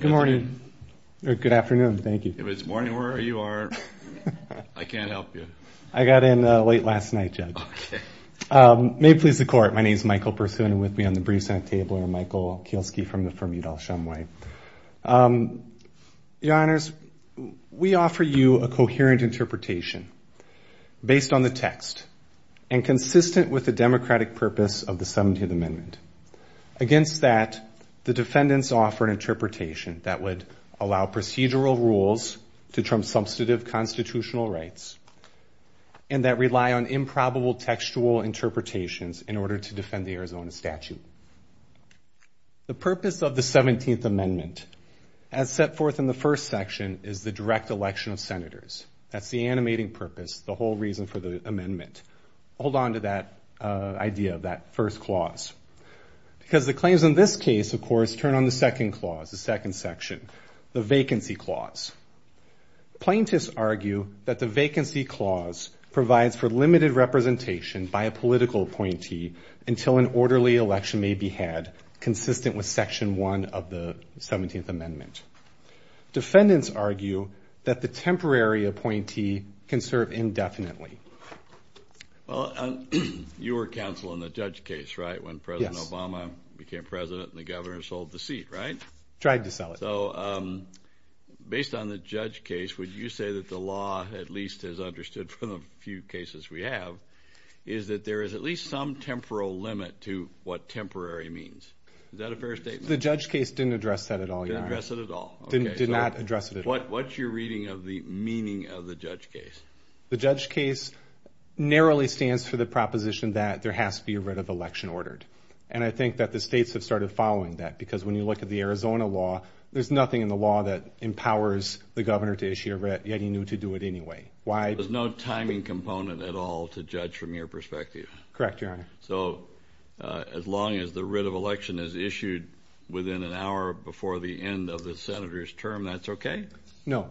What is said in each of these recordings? Good morning. Good afternoon. Thank you. If it's morning, where are you? I can't help you. I got in late last night, Judge. May it please the Court, my name is Michael Berthune with me on the briefs on the table, and Michael Kielski from Udall-Shem White. Your Honors, we offer you a coherent interpretation based on the text and consistent with the democratic purpose of the 17th Amendment. Against that, the defendants offer an interpretation that would allow procedural rules to trump substantive constitutional rights and that The purpose of the 17th Amendment, as set forth in the first section, is the direct election of Senators. That's the animating purpose, the whole reason for the Amendment. Hold on to that idea of that first clause. Because the claims in this case, of course, turn on the second clause, the second section, the Vacancy Clause. Plaintiffs argue that the Vacancy Clause provides for limited representation by a political appointee until an orderly election may be had, consistent with Section 1 of the 17th Amendment. Defendants argue that the temporary appointee can serve indefinitely. Well, you were counsel in the Judge case, right, when President Obama became President and the Governor sold the seat, right? Tried to sell it. So, based on the Judge case, would you say that the law at least has understood from the few cases we have, is that there is at least some temporal limit to what temporary means? Is that a fair statement? The Judge case didn't address that at all, Your Honor. Didn't address it at all. Did not address it at all. What's your reading of the meaning of the Judge case? The Judge case narrowly stands for the proposition that there has to be a writ of election ordered. And I think that the states have started following that, because when you look at the Arizona law, there's nothing in the law that empowers the Governor to issue a writ, yet he knew to do it anyway. Why? There's no timing component at all to judge from your perspective. Correct, Your Honor. So, as long as the writ of election is issued within an hour before the end of the Senator's term, that's okay? No.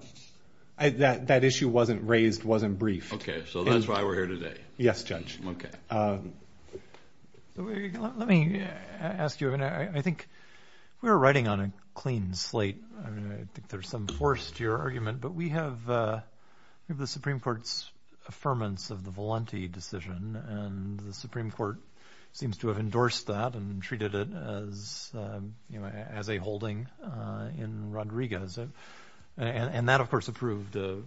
That issue wasn't raised, wasn't briefed. Okay. So, that's why we're here today. Yes, Judge. Okay. Let me ask you, I think we were writing on a clean slate. I think there's some force to your argument, but we have the Supreme Court's affirmance of the Valenti decision, and the Supreme Court seems to have endorsed that and treated it as a holding in Rodriguez. And that, of course, approved a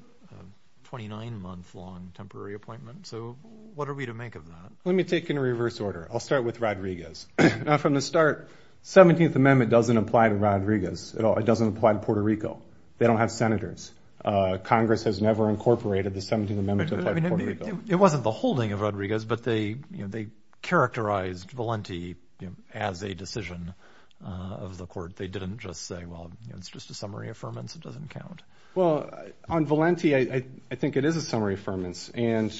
29-month-long temporary appointment. So, what are we to make of that? Let me take it in reverse order. I'll start with Rodriguez. Now, from the start, the 17th Amendment doesn't apply to Rodriguez at all. It doesn't apply to Puerto Rico. They don't have Senators. Congress has never incorporated the 17th Amendment to apply to Puerto Rico. It wasn't the holding of Rodriguez, but they characterized Valenti as a decision of the court. They didn't just say, well, it's just a summary affirmance, it doesn't count. Well, on Valenti, I think it is a summary affirmance. And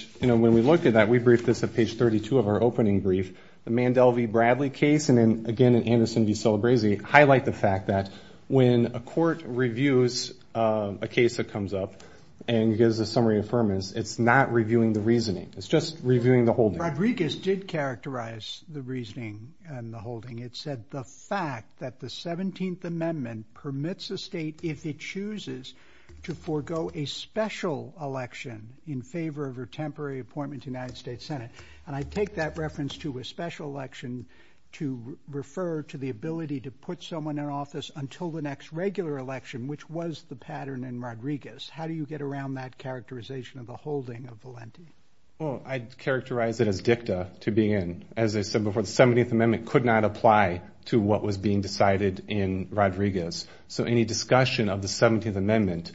when we looked at that, we briefed this at page 32 of our opening brief, the Mandel v. Bradley case, and then again in Anderson v. Celebrezzi, highlight the fact that when a court reviews a case that comes up and gives a summary affirmance, it's not reviewing the reasoning. It's just reviewing the holding. Rodriguez did characterize the reasoning and the holding. It said the fact that the 17th Amendment permits a state, if it chooses, to forego a special election in favor of a temporary appointment to the United States Senate. And I take that reference to a special election to refer to the ability to put someone in office until the next regular election, which was the pattern in Rodriguez. How do you get around that characterization of the holding of Valenti? Well, I'd characterize it as dicta to begin. As I said before, the 17th Amendment could not apply to what was being decided in Rodriguez. So any discussion of the 17th Amendment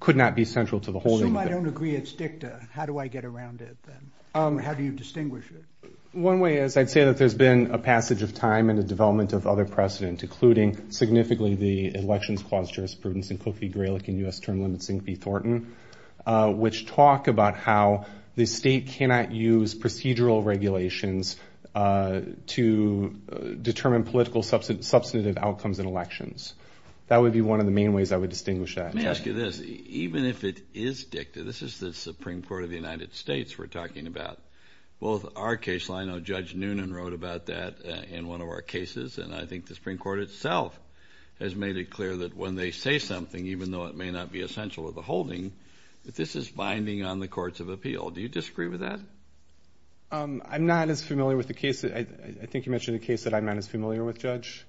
could not be central to the holding of Valenti. Assume I don't agree it's dicta. How do I get around it then? How do you distinguish it? One way is I'd say that there's been a passage of time and a development of other precedent, including significantly the elections clause jurisprudence in Kofi Greilich and U.S. term limits in Key Thornton, which talk about how the state cannot use procedural regulations to determine political substantive outcomes in elections. That would be one of the main ways I would distinguish that. Let me ask you this. Even if it is dicta, this is the Supreme Court of the United States we're talking about. Both our case line, I know Judge Noonan wrote about that in one of our cases, and I think the Supreme Court itself has made it clear that when they say something, even though it may not be essential to the holding, that this is binding on the courts of appeal. Do you disagree with that? I'm not as familiar with the case. I think you mentioned a case that I'm not as familiar with, Judge.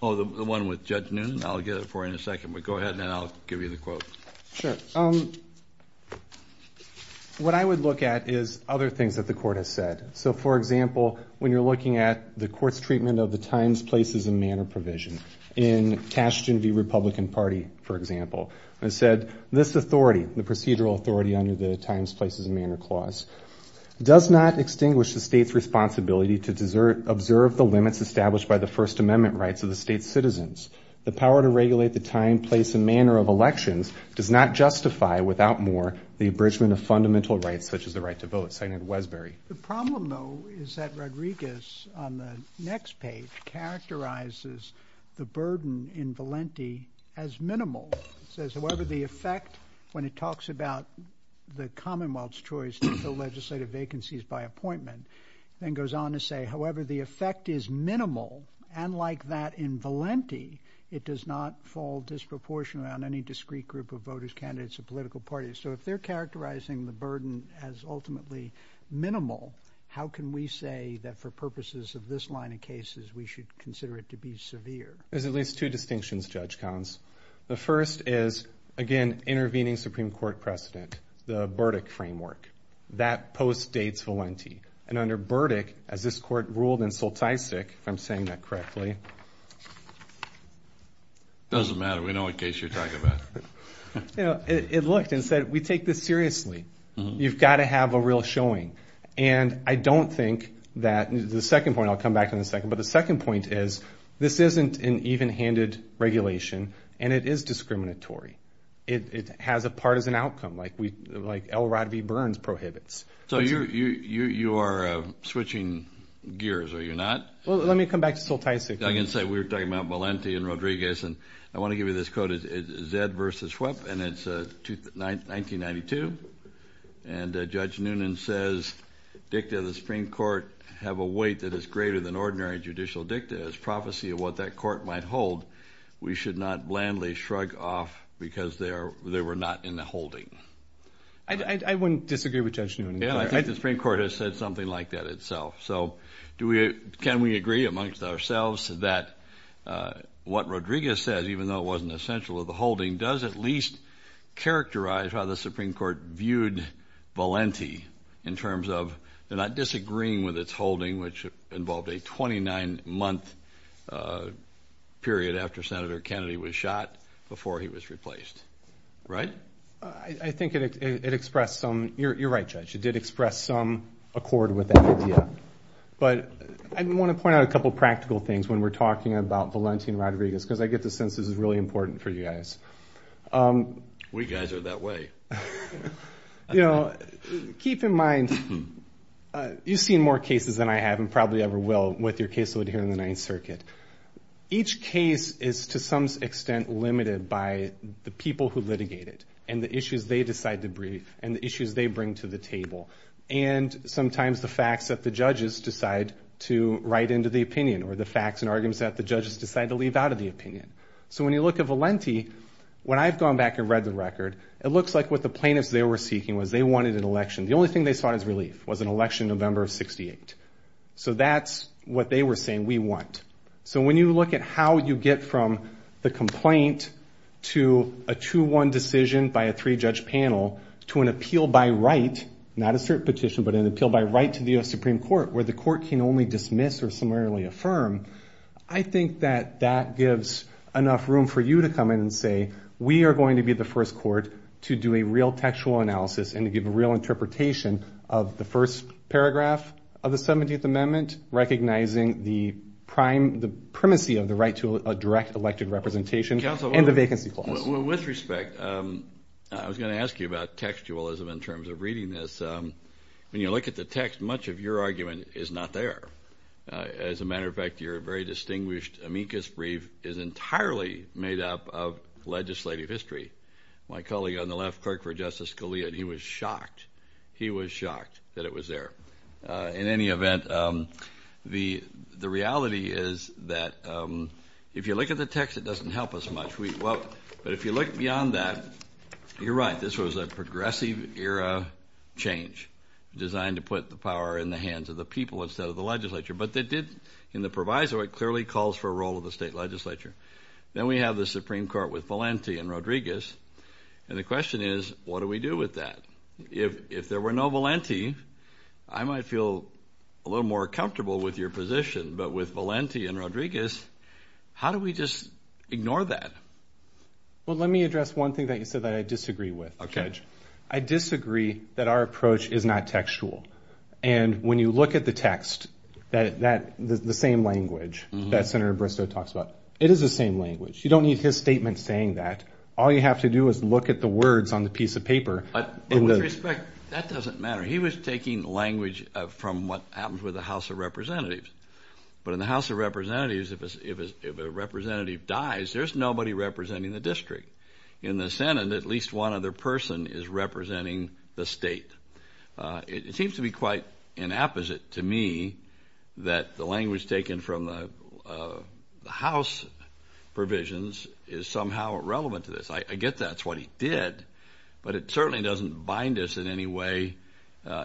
Oh, the one with Judge Noonan? I'll get it for you in a second, but go ahead, and then I'll give you the quote. Sure. What I would look at is other things that the court has said. So, for example, when you're looking at the court's treatment of the times, places, and manner provision, in Cashton v. Republican Party, for example, it said this authority, the procedural authority under the times, places, and manner clause, does not extinguish the state's responsibility to observe the limits established by the First Amendment rights of the state's citizens. The power to regulate the time, place, and manner of elections does not justify, without more, the abridgment of fundamental rights, such as the right to vote, seconded in Westbury. The problem, though, is that Rodriguez, on the next page, characterizes the burden in Valenti as minimal. It says, however, the effect, when it talks about the Commonwealth's choice to fill legislative vacancies by appointment, then goes on to say, however, the effect is minimal, and like that in Valenti, it does not fall disproportionately on any discrete group of voters, candidates, or political parties. So if they're characterizing the burden as ultimately minimal, how can we say that for purposes of this line of cases, we should consider it to be severe? There's at least two distinctions, Judge Collins. The first is, again, intervening Supreme Court precedent, the Burdick framework. That postdates Valenti. And under Burdick, as this court ruled in Soltysik, if I'm saying that correctly. It doesn't matter. We know what case you're talking about. You know, it looked and said, we take this seriously. You've got to have a real showing. And I don't think that the second point, I'll come back to in a second, but the second point is, this isn't an even-handed regulation, and it is discriminatory. It has a partisan outcome, like L. Rodney Burns prohibits. So you are switching gears, are you not? Well, let me come back to Soltysik. We were talking about Valenti and Rodriguez, and I want to give you this quote. It's Zed versus Schwepp, and it's 1992. And Judge Noonan says, dicta of the Supreme Court have a weight that is greater than ordinary judicial dicta. It's prophecy of what that court might hold. We should not blandly shrug off because they were not in the holding. I wouldn't disagree with Judge Noonan. Yeah, I think the Supreme Court has said something like that itself. So can we agree amongst ourselves that what Rodriguez says, even though it wasn't essential of the holding, does at least characterize how the Supreme Court viewed Valenti in terms of not disagreeing with its holding, which involved a 29-month period after Senator Kennedy was shot before he was replaced, right? I think it expressed some – you're right, Judge. It did express some accord with that idea. But I want to point out a couple of practical things when we're talking about Valenti and Rodriguez because I get the sense this is really important for you guys. We guys are that way. Keep in mind, you've seen more cases than I have and probably ever will with your case load here in the Ninth Circuit. Each case is to some extent limited by the people who litigate it and the issues they decide to brief and the issues they bring to the table and sometimes the facts that the judges decide to write into the opinion or the facts and arguments that the judges decide to leave out of the opinion. So when you look at Valenti, when I've gone back and read the record, it looks like what the plaintiffs there were seeking was they wanted an election. The only thing they sought is relief was an election in November of 68. So that's what they were saying we want. So when you look at how you get from the complaint to a 2-1 decision by a three-judge panel to an appeal by right, not a cert petition, but an appeal by right to the U.S. Supreme Court where the court can only dismiss or summarily affirm, I think that that gives enough room for you to come in and say we are going to be the first court to do a real textual analysis and to give a real interpretation of the first paragraph of the 17th Amendment recognizing the primacy of the right to a direct elected representation and the vacancy clause. With respect, I was going to ask you about textualism in terms of reading this. When you look at the text, much of your argument is not there. As a matter of fact, your very distinguished amicus brief is entirely made up of legislative history. My colleague on the left, Clerk for Justice Scalia, he was shocked. He was shocked that it was there. In any event, the reality is that if you look at the text, it doesn't help us much. But if you look beyond that, you're right. This was a progressive era change designed to put the power in the hands of the people instead of the legislature. But it did, in the proviso, it clearly calls for a role of the state legislature. Then we have the Supreme Court with Valenti and Rodriguez. And the question is, what do we do with that? If there were no Valenti, I might feel a little more comfortable with your position. But with Valenti and Rodriguez, how do we just ignore that? Well, let me address one thing that you said that I disagree with, Judge. I disagree that our approach is not textual. And when you look at the text, the same language that Senator Bristow talks about, it is the same language. You don't need his statement saying that. All you have to do is look at the words on the piece of paper. But with respect, that doesn't matter. He was taking language from what happens with the House of Representatives. But in the House of Representatives, if a representative dies, there's nobody representing the district. In the Senate, at least one other person is representing the state. It seems to be quite an apposite to me that the language taken from the House provisions is somehow relevant to this. I get that's what he did, but it certainly doesn't bind us in any way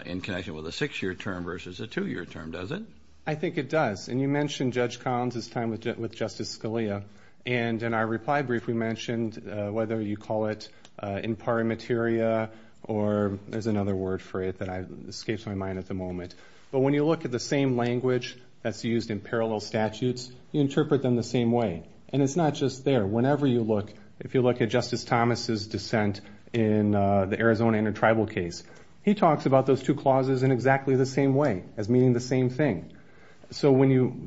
in connection with a six-year term versus a two-year term, does it? I think it does. And you mentioned Judge Collins' time with Justice Scalia. And in our reply brief, we mentioned whether you call it in pari materia or there's another word for it that escapes my mind at the moment. But when you look at the same language that's used in parallel statutes, you interpret them the same way. And it's not just there. Whenever you look, if you look at Justice Thomas' dissent in the Arizona intertribal case, he talks about those two clauses in exactly the same way as meaning the same thing. So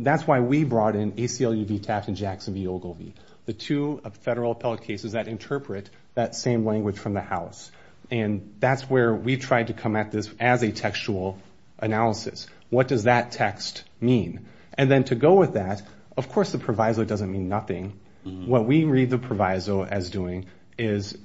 that's why we brought in ACLU v. Taft and Jackson v. Ogilvie, the two federal appellate cases that interpret that same language from the House. And that's where we tried to come at this as a textual analysis. What does that text mean? And then to go with that, of course the proviso doesn't mean nothing. What we read the proviso as doing is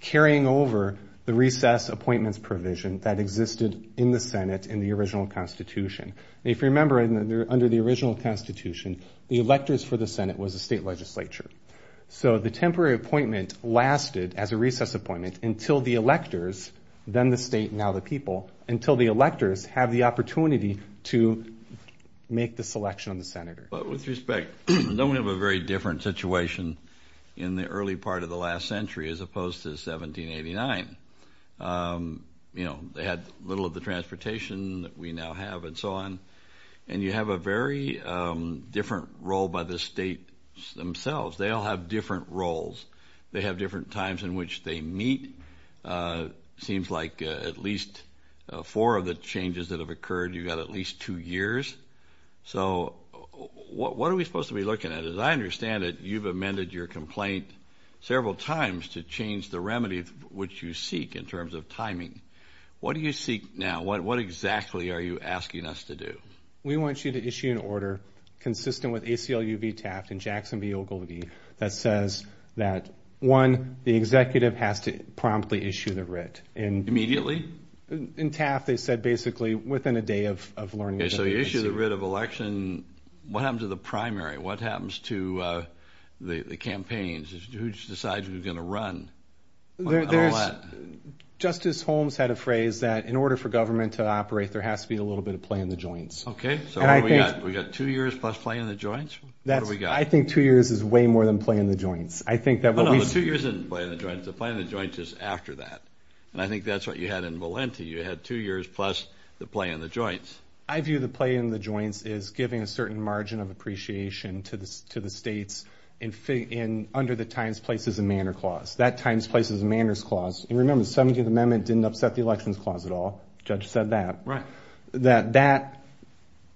carrying over the recess appointments provision that existed in the Senate in the original Constitution. If you remember, under the original Constitution, the electors for the Senate was the state legislature. So the temporary appointment lasted as a recess appointment until the electors, then the state, now the people, until the electors have the opportunity to make the selection of the senator. But with respect, don't we have a very different situation in the early part of the last century as opposed to 1789? You know, they had little of the transportation that we now have and so on. And you have a very different role by the states themselves. They all have different roles. They have different times in which they meet. It seems like at least four of the changes that have occurred, you've got at least two years. So what are we supposed to be looking at? As I understand it, you've amended your complaint several times to change the remedy which you seek in terms of timing. What do you seek now? What exactly are you asking us to do? We want you to issue an order consistent with ACLU v. Taft and Jackson v. Ogilvie that says that, one, the executive has to promptly issue the writ. Immediately? In Taft, they said basically within a day of learning. Okay, so you issue the writ of election. What happens to the primary? What happens to the campaigns? Who decides who's going to run? Justice Holmes had a phrase that in order for government to operate, there has to be a little bit of play in the joints. Okay, so what have we got? We've got two years plus play in the joints? What have we got? I think two years is way more than play in the joints. Oh, no, the two years isn't play in the joints. The play in the joints is after that. And I think that's what you had in Valenti. You had two years plus the play in the joints. I view the play in the joints as giving a certain margin of appreciation to the states under the Times, Places, and Manners Clause. That Times, Places, and Manners Clause. And remember, the 17th Amendment didn't upset the Elections Clause at all. The judge said that. Right. That that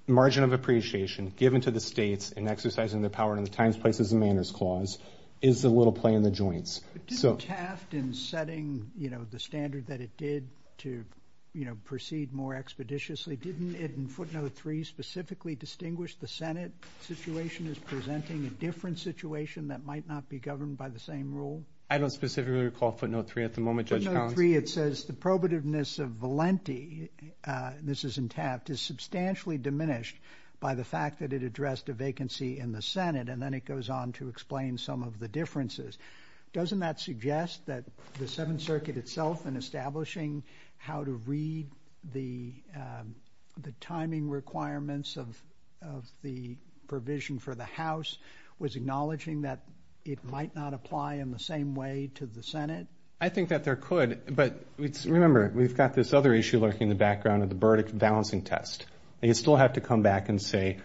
margin of appreciation given to the states in exercising their power under the Times, Places, and Manners Clause is a little play in the joints. But didn't Taft, in setting, you know, the standard that it did to, you know, proceed more expeditiously, didn't it in footnote three specifically distinguish the Senate situation as presenting a different situation that might not be governed by the same rule? I don't specifically recall footnote three at the moment, Judge Collins. Footnote three, it says the probativeness of Valenti, and this is in Taft, is substantially diminished by the fact that it addressed a vacancy in the Senate, and then it goes on to explain some of the differences. Doesn't that suggest that the Seventh Circuit itself, in establishing how to read the timing requirements of the provision for the House, was acknowledging that it might not apply in the same way to the Senate? I think that there could, but remember, we've got this other issue lurking in the background of the verdict balancing test. They still have to come back and say,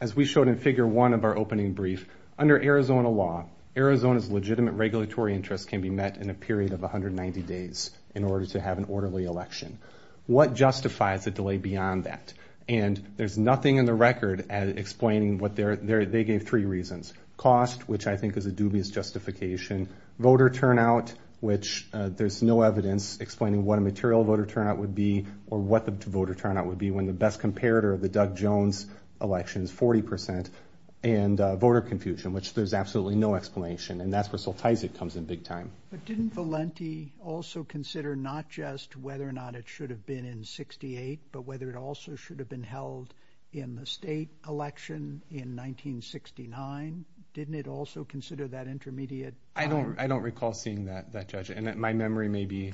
as we showed in figure one of our opening brief, under Arizona law, Arizona's legitimate regulatory interests can be met in a period of 190 days in order to have an orderly election. What justifies a delay beyond that? And there's nothing in the record explaining what their, they gave three reasons. Cost, which I think is a dubious justification. Voter turnout, which there's no evidence explaining what a material voter turnout would be, or what the voter turnout would be when the best comparator of the Doug Jones election is 40%, and voter confusion, which there's absolutely no explanation, and that's where Soltysiak comes in big time. But didn't Valenti also consider not just whether or not it should have been in 68, but whether it also should have been held in the state election in 1969? Didn't it also consider that intermediate time? I don't recall seeing that, Judge, and my memory may be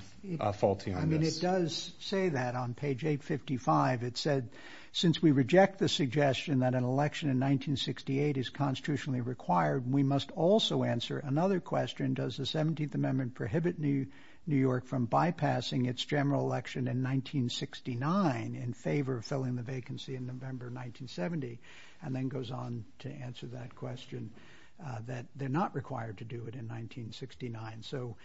faulty on this. I mean, it does say that on page 855. It said, since we reject the suggestion that an election in 1968 is constitutionally required, we must also answer another question. Does the 17th Amendment prohibit New York from bypassing its general election in 1969 in favor of filling the vacancy in November 1970? And then goes on to answer that question that they're not required to do it in 1969. So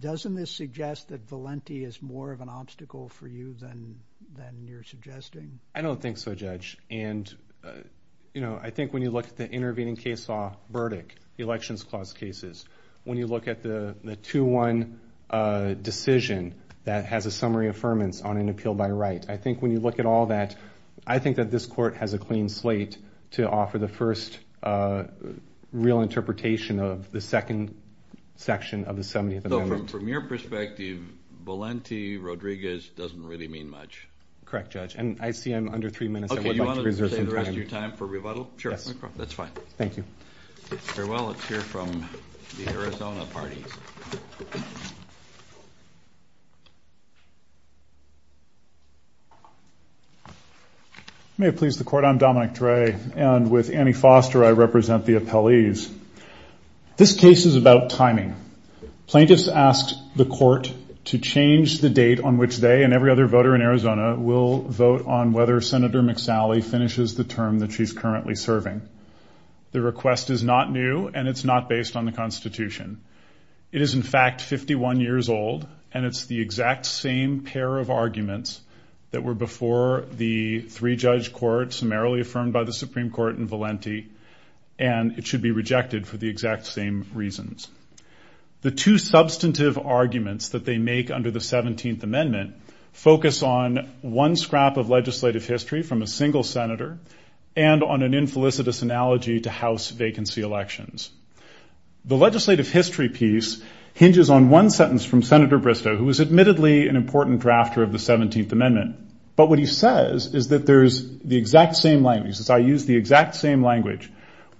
doesn't this suggest that Valenti is more of an obstacle for you than you're suggesting? I don't think so, Judge. And, you know, I think when you look at the intervening case law verdict, the Elections Clause cases, when you look at the 2-1 decision that has a summary affirmance on an appeal by right, I think when you look at all that, I think that this Court has a clean slate to offer the first real interpretation of the second section of the 17th Amendment. So from your perspective, Valenti-Rodriguez doesn't really mean much? Correct, Judge, and I see I'm under three minutes. Okay, you want to save the rest of your time for rebuttal? Yes. That's fine. Thank you. Very well, let's hear from the Arizona parties. May it please the Court, I'm Dominic Dre. And with Annie Foster, I represent the appellees. This case is about timing. Plaintiffs asked the Court to change the date on which they and every other voter in Arizona will vote on whether Senator McSally finishes the term that she's currently serving. The request is not new, and it's not based on the Constitution. It is, in fact, 51 years old, and it's the exact same pair of arguments that were before the three-judge court summarily affirmed by the Supreme Court in Valenti, and it should be rejected for the exact same reasons. The two substantive arguments that they make under the 17th Amendment focus on one scrap of legislative history from a single senator and on an infelicitous analogy to House vacancy elections. The legislative history piece hinges on one sentence from Senator Bristow, who is admittedly an important drafter of the 17th Amendment, but what he says is that there's the exact same language. So I use the exact same language.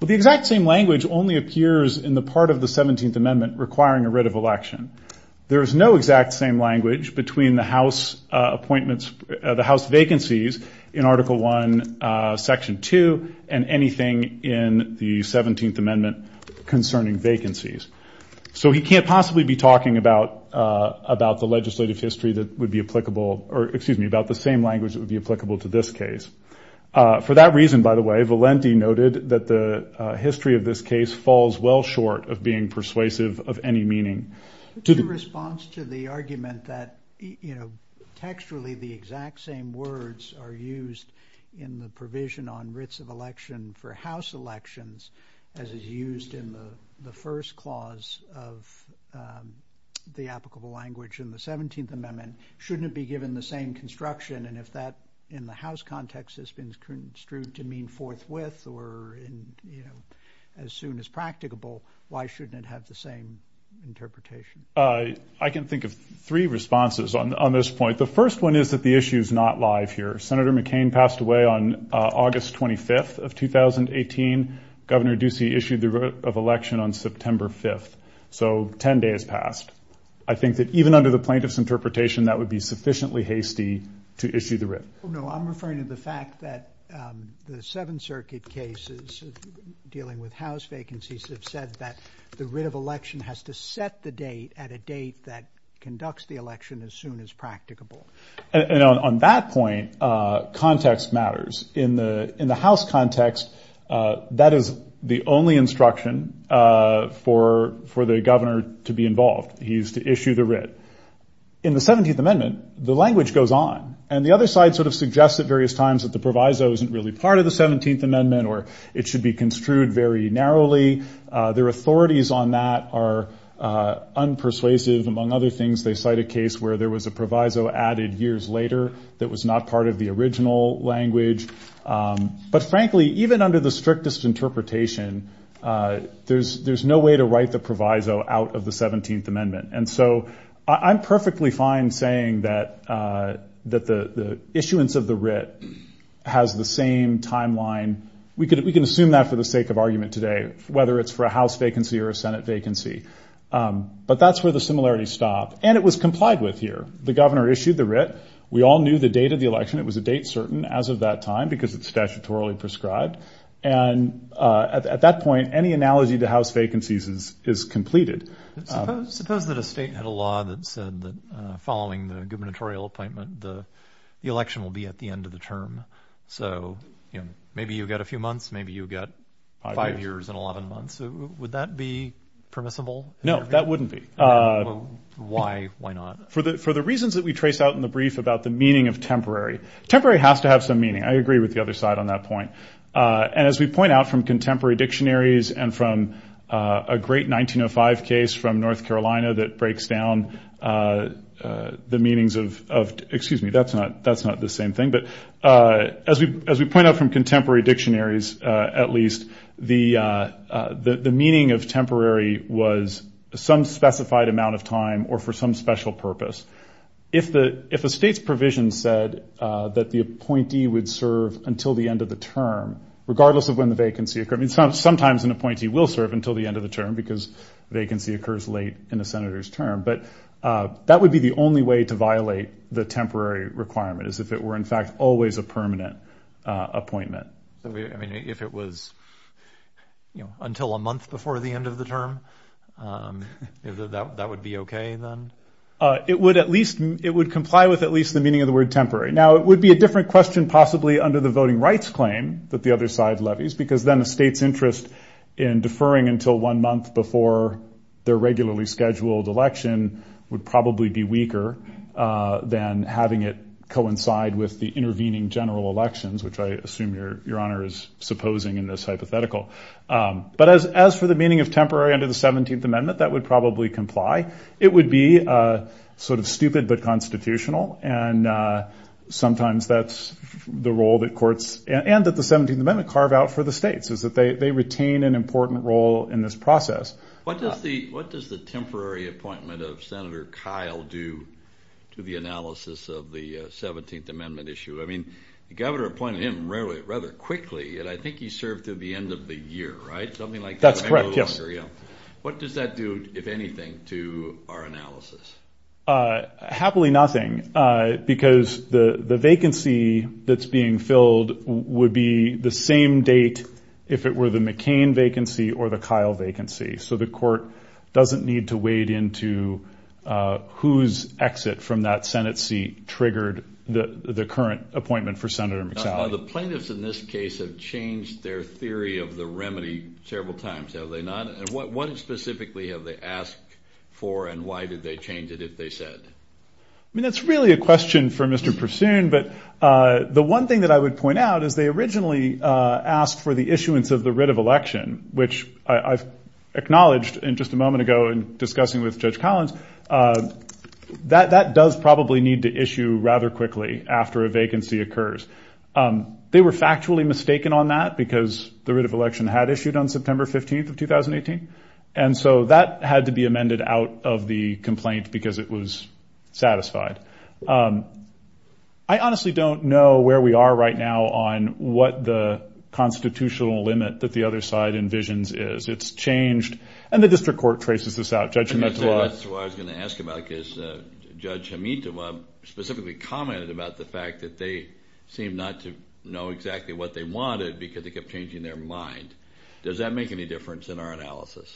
But the exact same language only appears in the part of the 17th Amendment requiring a writ of election. There is no exact same language between the House vacancies in Article I, Section 2, and anything in the 17th Amendment concerning vacancies. So he can't possibly be talking about the legislative history that would be applicable or, excuse me, about the same language that would be applicable to this case. For that reason, by the way, Valenti noted that the history of this case falls well short of being persuasive of any meaning. Your response to the argument that textually the exact same words are used in the provision on writs of election for House elections as is used in the first clause of the applicable language in the 17th Amendment, shouldn't it be given the same construction? And if that in the House context has been construed to mean forthwith or as soon as practicable, why shouldn't it have the same interpretation? I can think of three responses on this point. The first one is that the issue is not live here. Senator McCain passed away on August 25th of 2018. Governor Ducey issued the writ of election on September 5th. So 10 days passed. I think that even under the plaintiff's interpretation, that would be sufficiently hasty to issue the writ. No, I'm referring to the fact that the Seventh Circuit cases dealing with House vacancies have said that the writ of election has to set the date at a date that conducts the election as soon as practicable. On that point, context matters. In the House context, that is the only instruction for the governor to be involved. He's to issue the writ. In the 17th Amendment, the language goes on. And the other side sort of suggests at various times that the proviso isn't really part of the 17th Amendment or it should be construed very narrowly. Their authorities on that are unpersuasive. Among other things, they cite a case where there was a proviso added years later that was not part of the original language. But, frankly, even under the strictest interpretation, there's no way to write the proviso out of the 17th Amendment. And so I'm perfectly fine saying that the issuance of the writ has the same timeline. We can assume that for the sake of argument today, whether it's for a House vacancy or a Senate vacancy. But that's where the similarities stop. And it was complied with here. The governor issued the writ. We all knew the date of the election. It was a date certain as of that time because it's statutorily prescribed. And at that point, any analogy to House vacancies is completed. Suppose that a state had a law that said that following the gubernatorial appointment, the election will be at the end of the term. So maybe you've got a few months. Maybe you've got five years and 11 months. Would that be permissible? No, that wouldn't be. Why not? For the reasons that we trace out in the brief about the meaning of temporary. Temporary has to have some meaning. I agree with the other side on that point. And as we point out from contemporary dictionaries and from a great 1905 case from North Carolina that breaks down the meanings of the ‑‑ excuse me, that's not the same thing. But as we point out from contemporary dictionaries at least, the meaning of temporary was some specified amount of time or for some special purpose. If a state's provision said that the appointee would serve until the end of the term, regardless of when the vacancy occurred, sometimes an appointee will serve until the end of the term because vacancy occurs late in a senator's term. But that would be the only way to violate the temporary requirement, is if it were, in fact, always a permanent appointment. I mean, if it was until a month before the end of the term, that would be okay then? It would at least comply with at least the meaning of the word temporary. Now, it would be a different question possibly under the voting rights claim that the other side levies because then a state's interest in deferring until one month before their regularly scheduled election would probably be weaker than having it coincide with the intervening general elections, which I assume Your Honor is supposing in this hypothetical. But as for the meaning of temporary under the 17th Amendment, that would probably comply. It would be sort of stupid but constitutional, and sometimes that's the role that courts and that the 17th Amendment carve out for the states, is that they retain an important role in this process. What does the temporary appointment of Senator Kyle do to the analysis of the 17th Amendment issue? I mean, the governor appointed him rather quickly, and I think he served to the end of the year, right? Something like that. That's correct, yes. What does that do, if anything, to our analysis? Happily nothing because the vacancy that's being filled would be the same date if it were the McCain vacancy or the Kyle vacancy. So the court doesn't need to wade into whose exit from that Senate seat triggered the current appointment for Senator McSally. Now, the plaintiffs in this case have changed their theory of the remedy several times, have they not, and what specifically have they asked for and why did they change it if they said? I mean, that's really a question for Mr. Pursoon, but the one thing that I would point out is they originally asked for the issuance of the writ of election, which I've acknowledged just a moment ago in discussing with Judge Collins, that that does probably need to issue rather quickly after a vacancy occurs. They were factually mistaken on that because the writ of election had issued on September 15th of 2018, and so that had to be amended out of the complaint because it was satisfied. I honestly don't know where we are right now on what the constitutional limit that the other side envisions is. It's changed, and the district court traces this out. Judge Himetawa. That's what I was going to ask about because Judge Himetawa specifically commented about the fact that they seem not to know exactly what they wanted because they kept changing their mind. Does that make any difference in our analysis?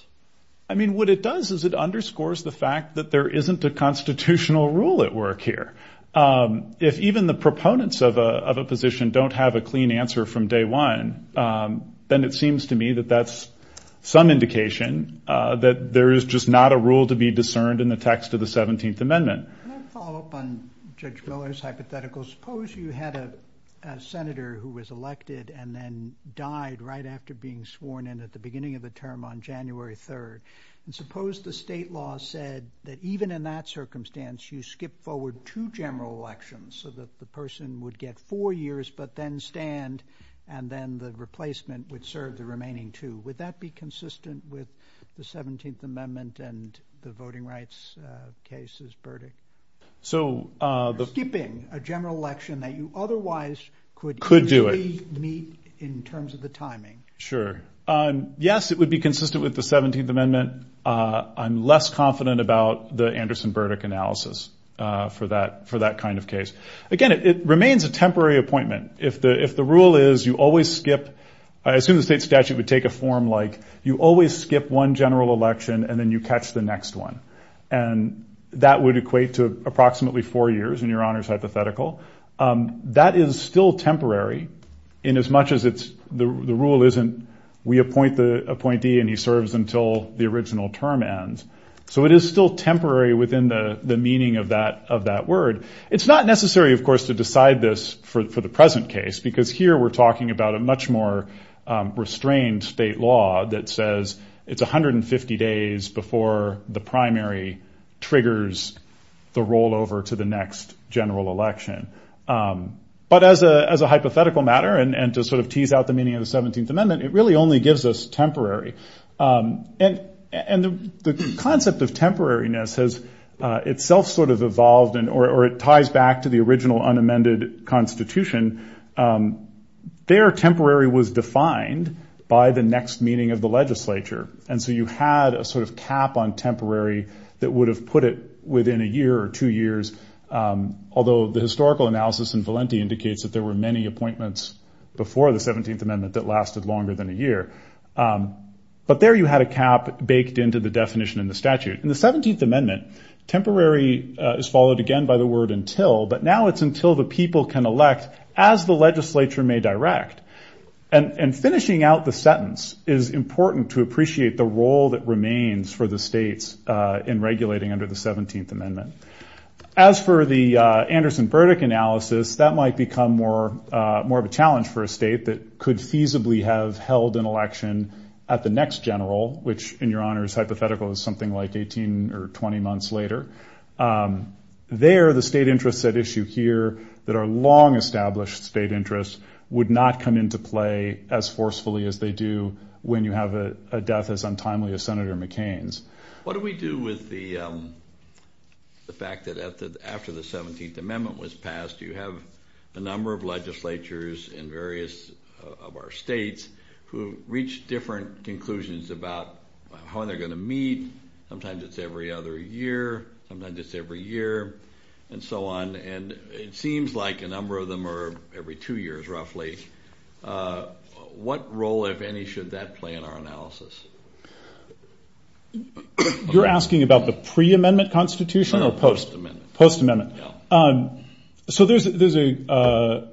I mean, what it does is it underscores the fact that there isn't a constitutional rule at work here. If even the proponents of a position don't have a clean answer from day one, then it seems to me that that's some indication that there is just not a rule to be discerned in the text of the 17th Amendment. Can I follow up on Judge Miller's hypothetical? Suppose you had a senator who was elected and then died right after being sworn in at the beginning of the term on January 3rd, and suppose the state law said that even in that circumstance you skip forward two general elections so that the person would get four years but then stand and then the replacement would serve the remaining two. Would that be consistent with the 17th Amendment and the voting rights case's verdict? Skipping a general election that you otherwise could easily meet in terms of the timing? Sure. Yes, it would be consistent with the 17th Amendment. I'm less confident about the Anderson-Burdick analysis for that kind of case. Again, it remains a temporary appointment. If the rule is you always skip, I assume the state statute would take a form like you always skip one general election and then you catch the next one, and that would equate to approximately four years in Your Honor's hypothetical. That is still temporary inasmuch as the rule isn't we appoint the appointee and he serves until the original term ends. So it is still temporary within the meaning of that word. It's not necessary, of course, to decide this for the present case because here we're talking about a much more restrained state law that says it's 150 days before the primary triggers the rollover to the next general election. But as a hypothetical matter and to sort of tease out the meaning of the 17th Amendment, it really only gives us temporary. And the concept of temporariness has itself sort of evolved or it ties back to the original unamended Constitution. There temporary was defined by the next meeting of the legislature. And so you had a sort of cap on temporary that would have put it within a year or two years, although the historical analysis in Valenti indicates that there were many appointments before the 17th Amendment that lasted longer than a year. But there you had a cap baked into the definition in the statute. In the 17th Amendment, temporary is followed again by the word until, but now it's until the people can elect as the legislature may direct. And finishing out the sentence is important to appreciate the role that remains for the states in regulating under the 17th Amendment. As for the Anderson-Burdick analysis, that might become more of a challenge for a state that could feasibly have held an election at the next general, which in your honors hypothetical is something like 18 or 20 months later. There the state interests at issue here that are long established state interests would not come into play as forcefully as they do when you have a death as untimely as Senator McCain's. What do we do with the fact that after the 17th Amendment was passed, you have a number of legislatures in various of our states who reach different conclusions about how they're going to meet. Sometimes it's every other year, sometimes it's every year, and so on. And it seems like a number of them are every two years roughly. What role, if any, should that play in our analysis? You're asking about the pre-amendment constitution or post-amendment? Post-amendment. So there's a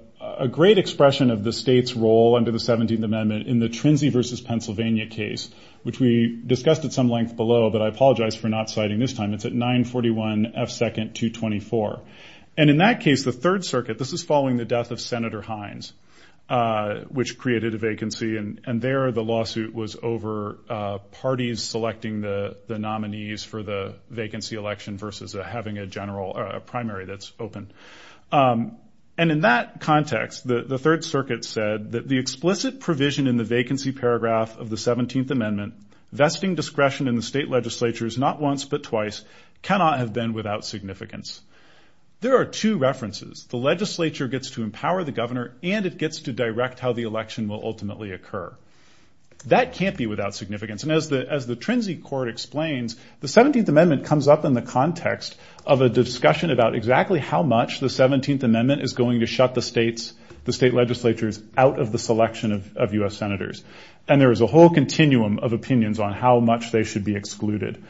great expression of the state's role under the 17th Amendment in the Trincy v. Pennsylvania case, which we discussed at some length below, but I apologize for not citing this time. It's at 941 F. 2nd, 224. And in that case, the Third Circuit, this is following the death of Senator Hines, which created a vacancy, and there the lawsuit was over parties selecting the nominees for the vacancy election versus having a primary that's open. And in that context, the Third Circuit said that the explicit provision in the vacancy paragraph of the 17th Amendment, vesting discretion in the state legislatures not once but twice, cannot have been without significance. There are two references. The legislature gets to empower the governor, and it gets to direct how the election will ultimately occur. That can't be without significance. And as the Trincy court explains, the 17th Amendment comes up in the context of a discussion about exactly how much the 17th Amendment is going to shut the state legislatures out of the selection of U.S. senators. And there is a whole continuum of opinions on how much they should be excluded.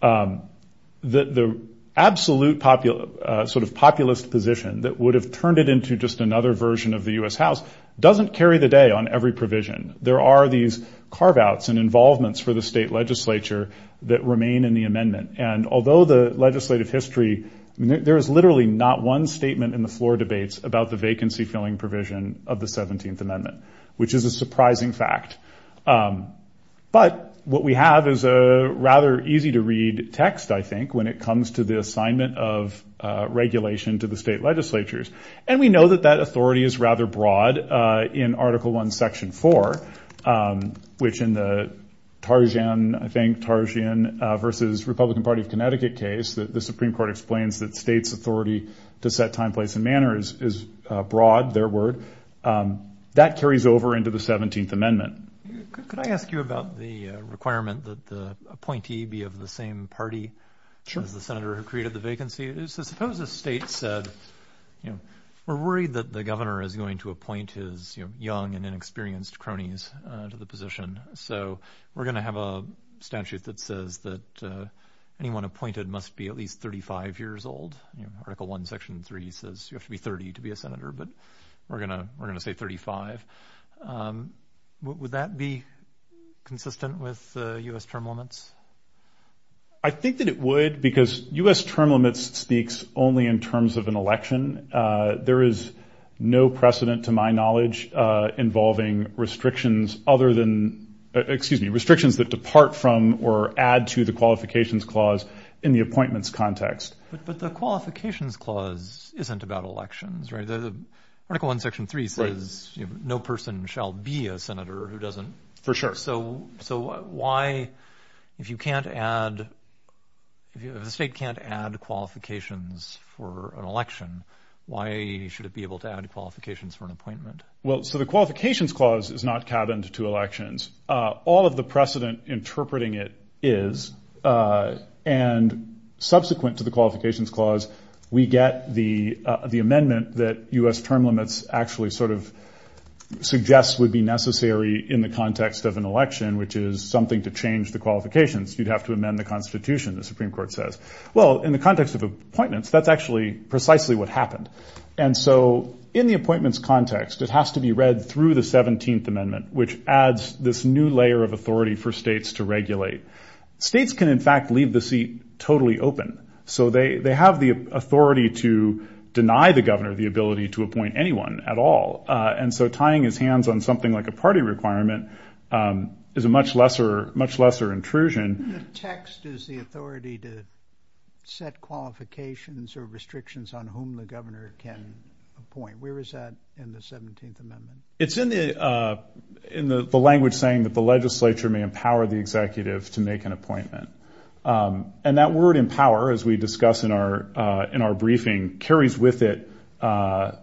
The absolute sort of populist position that would have turned it into just another version of the U.S. House doesn't carry the day on every provision. There are these carve-outs and involvements for the state legislature that remain in the amendment. And although the legislative history, there is literally not one statement in the floor debates about the vacancy-filling provision of the 17th Amendment, which is a surprising fact. But what we have is a rather easy-to-read text, I think, when it comes to the assignment of regulation to the state legislatures. And we know that that authority is rather broad in Article I, Section 4, which in the Tarzian, I think, Tarzian versus Republican Party of Connecticut case that the Supreme Court explains that states' authority to set time, place, and manner is broad, their word. That carries over into the 17th Amendment. Could I ask you about the requirement that the appointee be of the same party as the senator who created the vacancy? So suppose a state said, you know, we're worried that the governor is going to appoint his young and inexperienced cronies to the position. So we're going to have a statute that says that anyone appointed must be at least 35 years old. We're going to say 35. Would that be consistent with U.S. term limits? I think that it would because U.S. term limits speaks only in terms of an election. There is no precedent, to my knowledge, involving restrictions other than, excuse me, restrictions that depart from or add to the qualifications clause in the appointments context. But the qualifications clause isn't about elections, right? Article 1, Section 3 says no person shall be a senator who doesn't. For sure. So why, if you can't add, if the state can't add qualifications for an election, why should it be able to add qualifications for an appointment? Well, so the qualifications clause is not cabined to elections. All of the precedent interpreting it is. And subsequent to the qualifications clause, we get the amendment that U.S. term limits actually sort of suggests would be necessary in the context of an election, which is something to change the qualifications. You'd have to amend the Constitution, the Supreme Court says. Well, in the context of appointments, that's actually precisely what happened. And so in the appointments context, it has to be read through the 17th Amendment, this new layer of authority for states to regulate. States can, in fact, leave the seat totally open. So they have the authority to deny the governor the ability to appoint anyone at all. And so tying his hands on something like a party requirement is a much lesser intrusion. The text is the authority to set qualifications or restrictions on whom the governor can appoint. Where is that in the 17th Amendment? It's in the language saying that the legislature may empower the executive to make an appointment. And that word empower, as we discuss in our briefing, carries with it a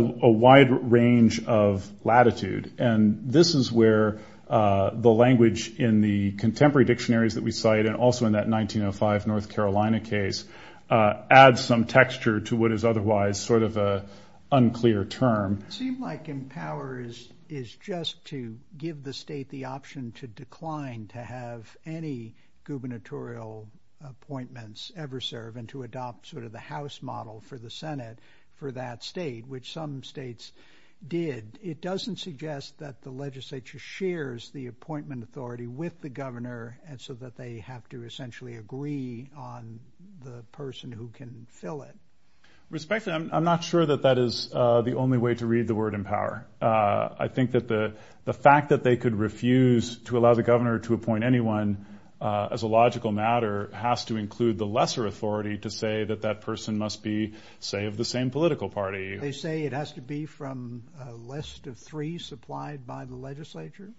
wide range of latitude. And this is where the language in the contemporary dictionaries that we cite and also in that 1905 North Carolina case adds some texture to what is otherwise sort of an unclear term. It seems like empower is just to give the state the option to decline to have any gubernatorial appointments ever serve and to adopt sort of the House model for the Senate for that state, which some states did. It doesn't suggest that the legislature shares the appointment authority with the governor so that they have to essentially agree on the person who can fill it. Respect to that, I'm not sure that that is the only way to read the word empower. I think that the fact that they could refuse to allow the governor to appoint anyone as a logical matter has to include the lesser authority to say that that person must be, say, of the same political party. They say it has to be from a list of three supplied by the legislature?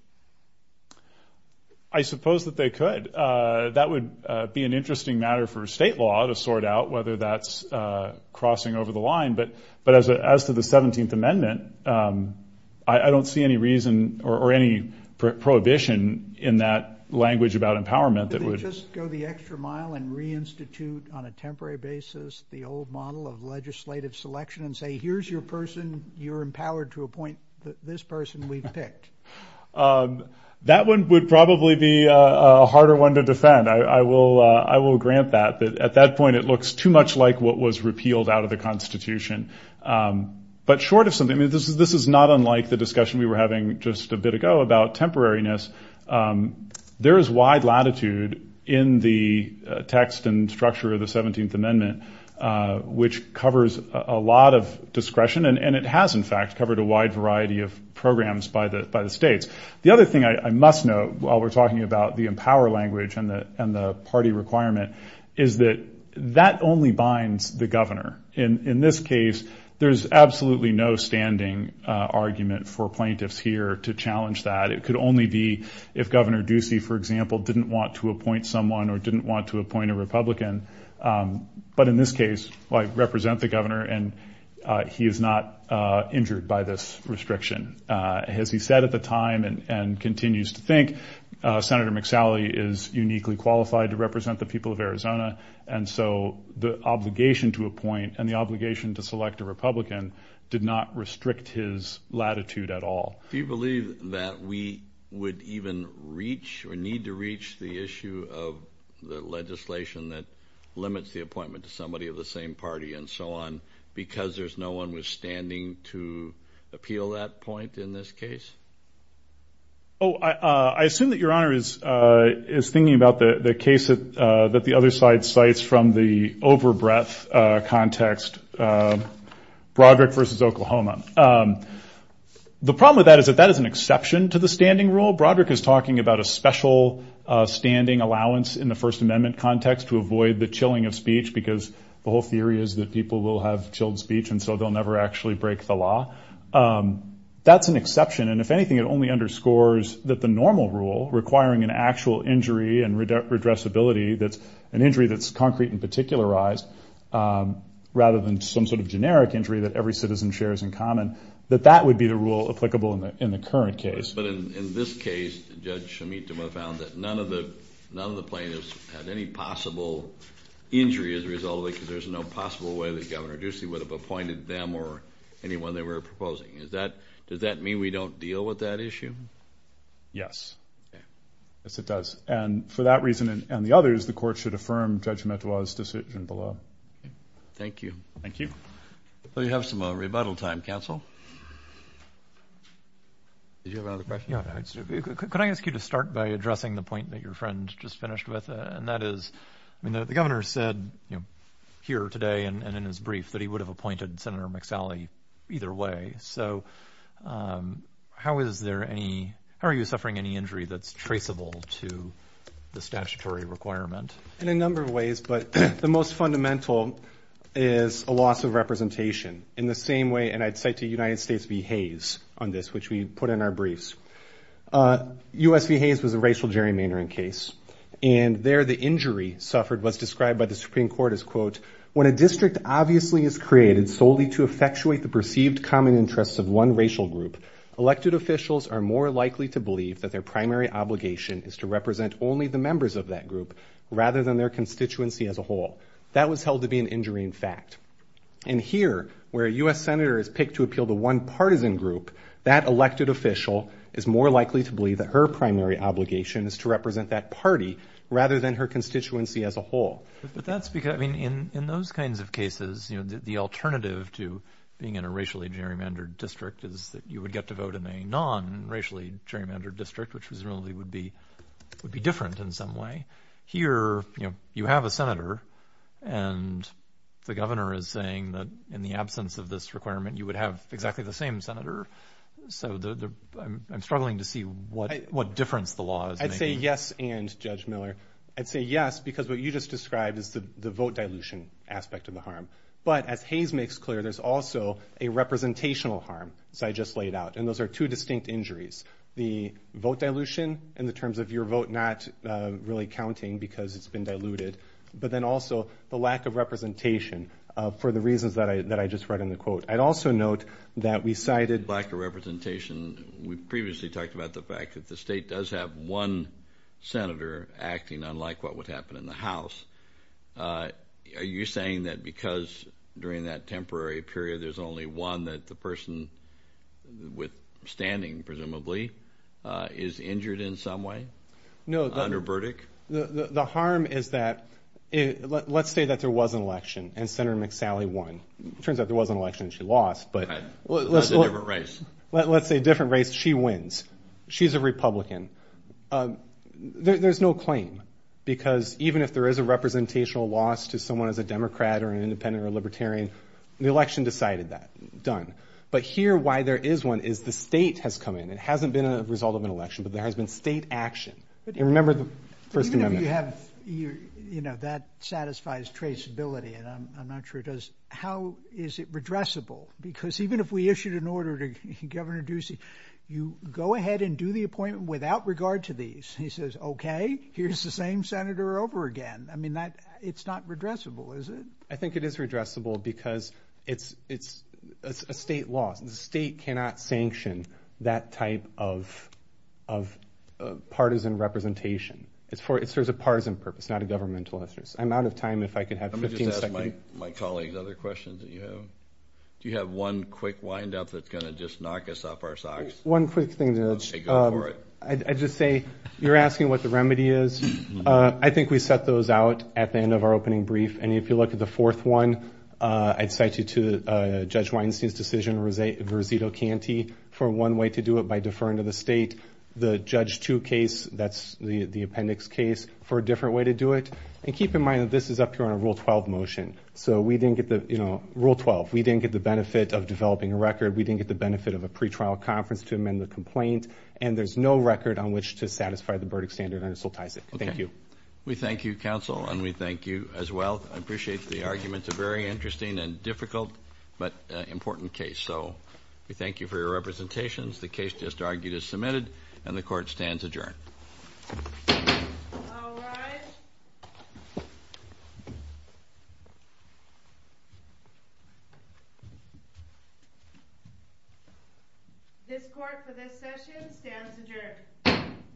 I suppose that they could. That would be an interesting matter for state law to sort out whether that's crossing over the line. But as to the 17th Amendment, I don't see any reason or any prohibition in that language about empowerment that would go the extra mile and reinstitute on a temporary basis the old model of legislative selection and say, here's your person, you're empowered to appoint this person we've picked. That one would probably be a harder one to defend. I will grant that. But at that point, it looks too much like what was repealed out of the Constitution. But short of something, I mean, this is not unlike the discussion we were having just a bit ago about temporariness. There is wide latitude in the text and structure of the 17th Amendment, which covers a lot of discretion. And it has, in fact, covered a wide variety of programs by the states. The other thing I must note while we're talking about the empower language and the party requirement is that that only binds the governor. In this case, there's absolutely no standing argument for plaintiffs here to challenge that. It could only be if Governor Ducey, for example, didn't want to appoint someone or didn't want to appoint a Republican. But in this case, I represent the governor and he is not injured by this restriction. As he said at the time and continues to think, Senator McSally is uniquely qualified to represent the people of Arizona. And so the obligation to appoint and the obligation to select a Republican did not restrict his latitude at all. Do you believe that we would even reach or need to reach the issue of the governor limits the appointment to somebody of the same party and so on because there's no one withstanding to appeal that point in this case? Oh, I assume that Your Honor is thinking about the case that the other side cites from the over-breath context, Broderick v. Oklahoma. The problem with that is that that is an exception to the standing rule. Broderick is talking about a special standing allowance in the First Amendment for the chilling of speech because the whole theory is that people will have chilled speech and so they'll never actually break the law. That's an exception. And if anything, it only underscores that the normal rule, requiring an actual injury and redressability, that's an injury that's concrete and particularized rather than some sort of generic injury that every citizen shares in common, that that would be the rule applicable in the current case. But in this case, Judge Shemituwa found that none of the plaintiffs had any possible injury as a result of it because there's no possible way that Governor Ducey would have appointed them or anyone they were proposing. Does that mean we don't deal with that issue? Yes. Yes, it does. And for that reason and the others, the court should affirm Judge Shemituwa's decision below. Thank you. Well, you have some rebuttal time, counsel. Did you have another question? Yeah. Could I ask you to start by addressing the point that your friend just finished with, and that is, I mean, the governor said, you know, here today and in his brief that he would have appointed Senator McSally either way. So how is there any, how are you suffering any injury that's traceable to the statutory requirement? In a number of ways, but the most fundamental is a loss of representation in the same way. And I'd say to United States v. Hayes on this, which we put in our briefs. U.S. v. Hayes was a racial gerrymandering case. And there the injury suffered was described by the Supreme Court as, quote, when a district obviously is created solely to effectuate the perceived common interests of one racial group, elected officials are more likely to believe that their primary obligation is to represent only the members of that group rather than their constituency as a whole. That was held to be an injury in fact. And here where a U.S. Senator is picked to appeal to one partisan group, that elected official is more likely to believe that her primary obligation is to represent that party rather than her constituency as a whole. But that's because, I mean, in, in those kinds of cases, you know, the alternative to being in a racially gerrymandered district is that you would get to vote in a non-racially gerrymandered district, which presumably would be, would be different in some way. Here, you know, you have a Senator and the governor is saying that in the absence of this requirement, you would have exactly the same Senator. So I'm struggling to see what, what difference the law is making. I'd say yes. And Judge Miller, I'd say yes because what you just described is the vote dilution aspect of the harm. But as Hayes makes clear, there's also a representational harm. So I just laid out, and those are two distinct injuries, the vote dilution in the terms of your vote, not really counting because it's been diluted, but then also the lack of representation for the reasons that I, that I just read in the quote. I'd also note that we cited. Lack of representation. We previously talked about the fact that the state does have one Senator acting unlike what would happen in the House. Are you saying that because during that temporary period, there's only one that the person with standing, presumably is injured in some way? No. Under Burdick? The harm is that it, let's say that there was an election and Senator McSally won. It turns out there was an election and she lost, but let's say different race. She wins. She's a Republican. There's no claim because even if there is a representational loss to someone as a Democrat or an independent or libertarian, the election decided that done. But here, why there is one is the state has come in and hasn't been a result of an election, but there has been state action. Remember the first amendment. You have, you know, that satisfies traceability and I'm not sure it does. How is it redressable? Because even if we issued an order to Governor Ducey, you go ahead and do the appointment without regard to these. He says, okay, here's the same Senator over again. I mean that it's not redressable, is it? I think it is redressable because it's, it's a state loss. The state cannot sanction that type of, of partisan representation. It's for, it serves a partisan purpose, not a governmental interest. I'm out of time. If I could have 15 seconds, my colleagues, other questions that you have. Do you have one quick wind up? That's going to just knock us off our socks. One quick thing. I just say you're asking what the remedy is. I think we set those out at the end of our opening brief. And if you look at the fourth one, I'd cite you to judge Weinstein's decision. It was a versatile Kanti for one way to do it by deferring to the state, the judge to case. That's the, the appendix case for a different way to do it. And keep in mind that this is up here on a rule 12 motion. So we didn't get the rule 12. We didn't get the benefit of developing a record. We didn't get the benefit of a pretrial conference to amend the complaint. And there's no record on which to satisfy the Burdick standard. And it still ties it. Thank you. We thank you counsel. And we thank you as well. I appreciate the arguments are very interesting and difficult, but important case. So we thank you for your representations. The case just argued is submitted and the court stands adjourned. This court for this session stands adjourned.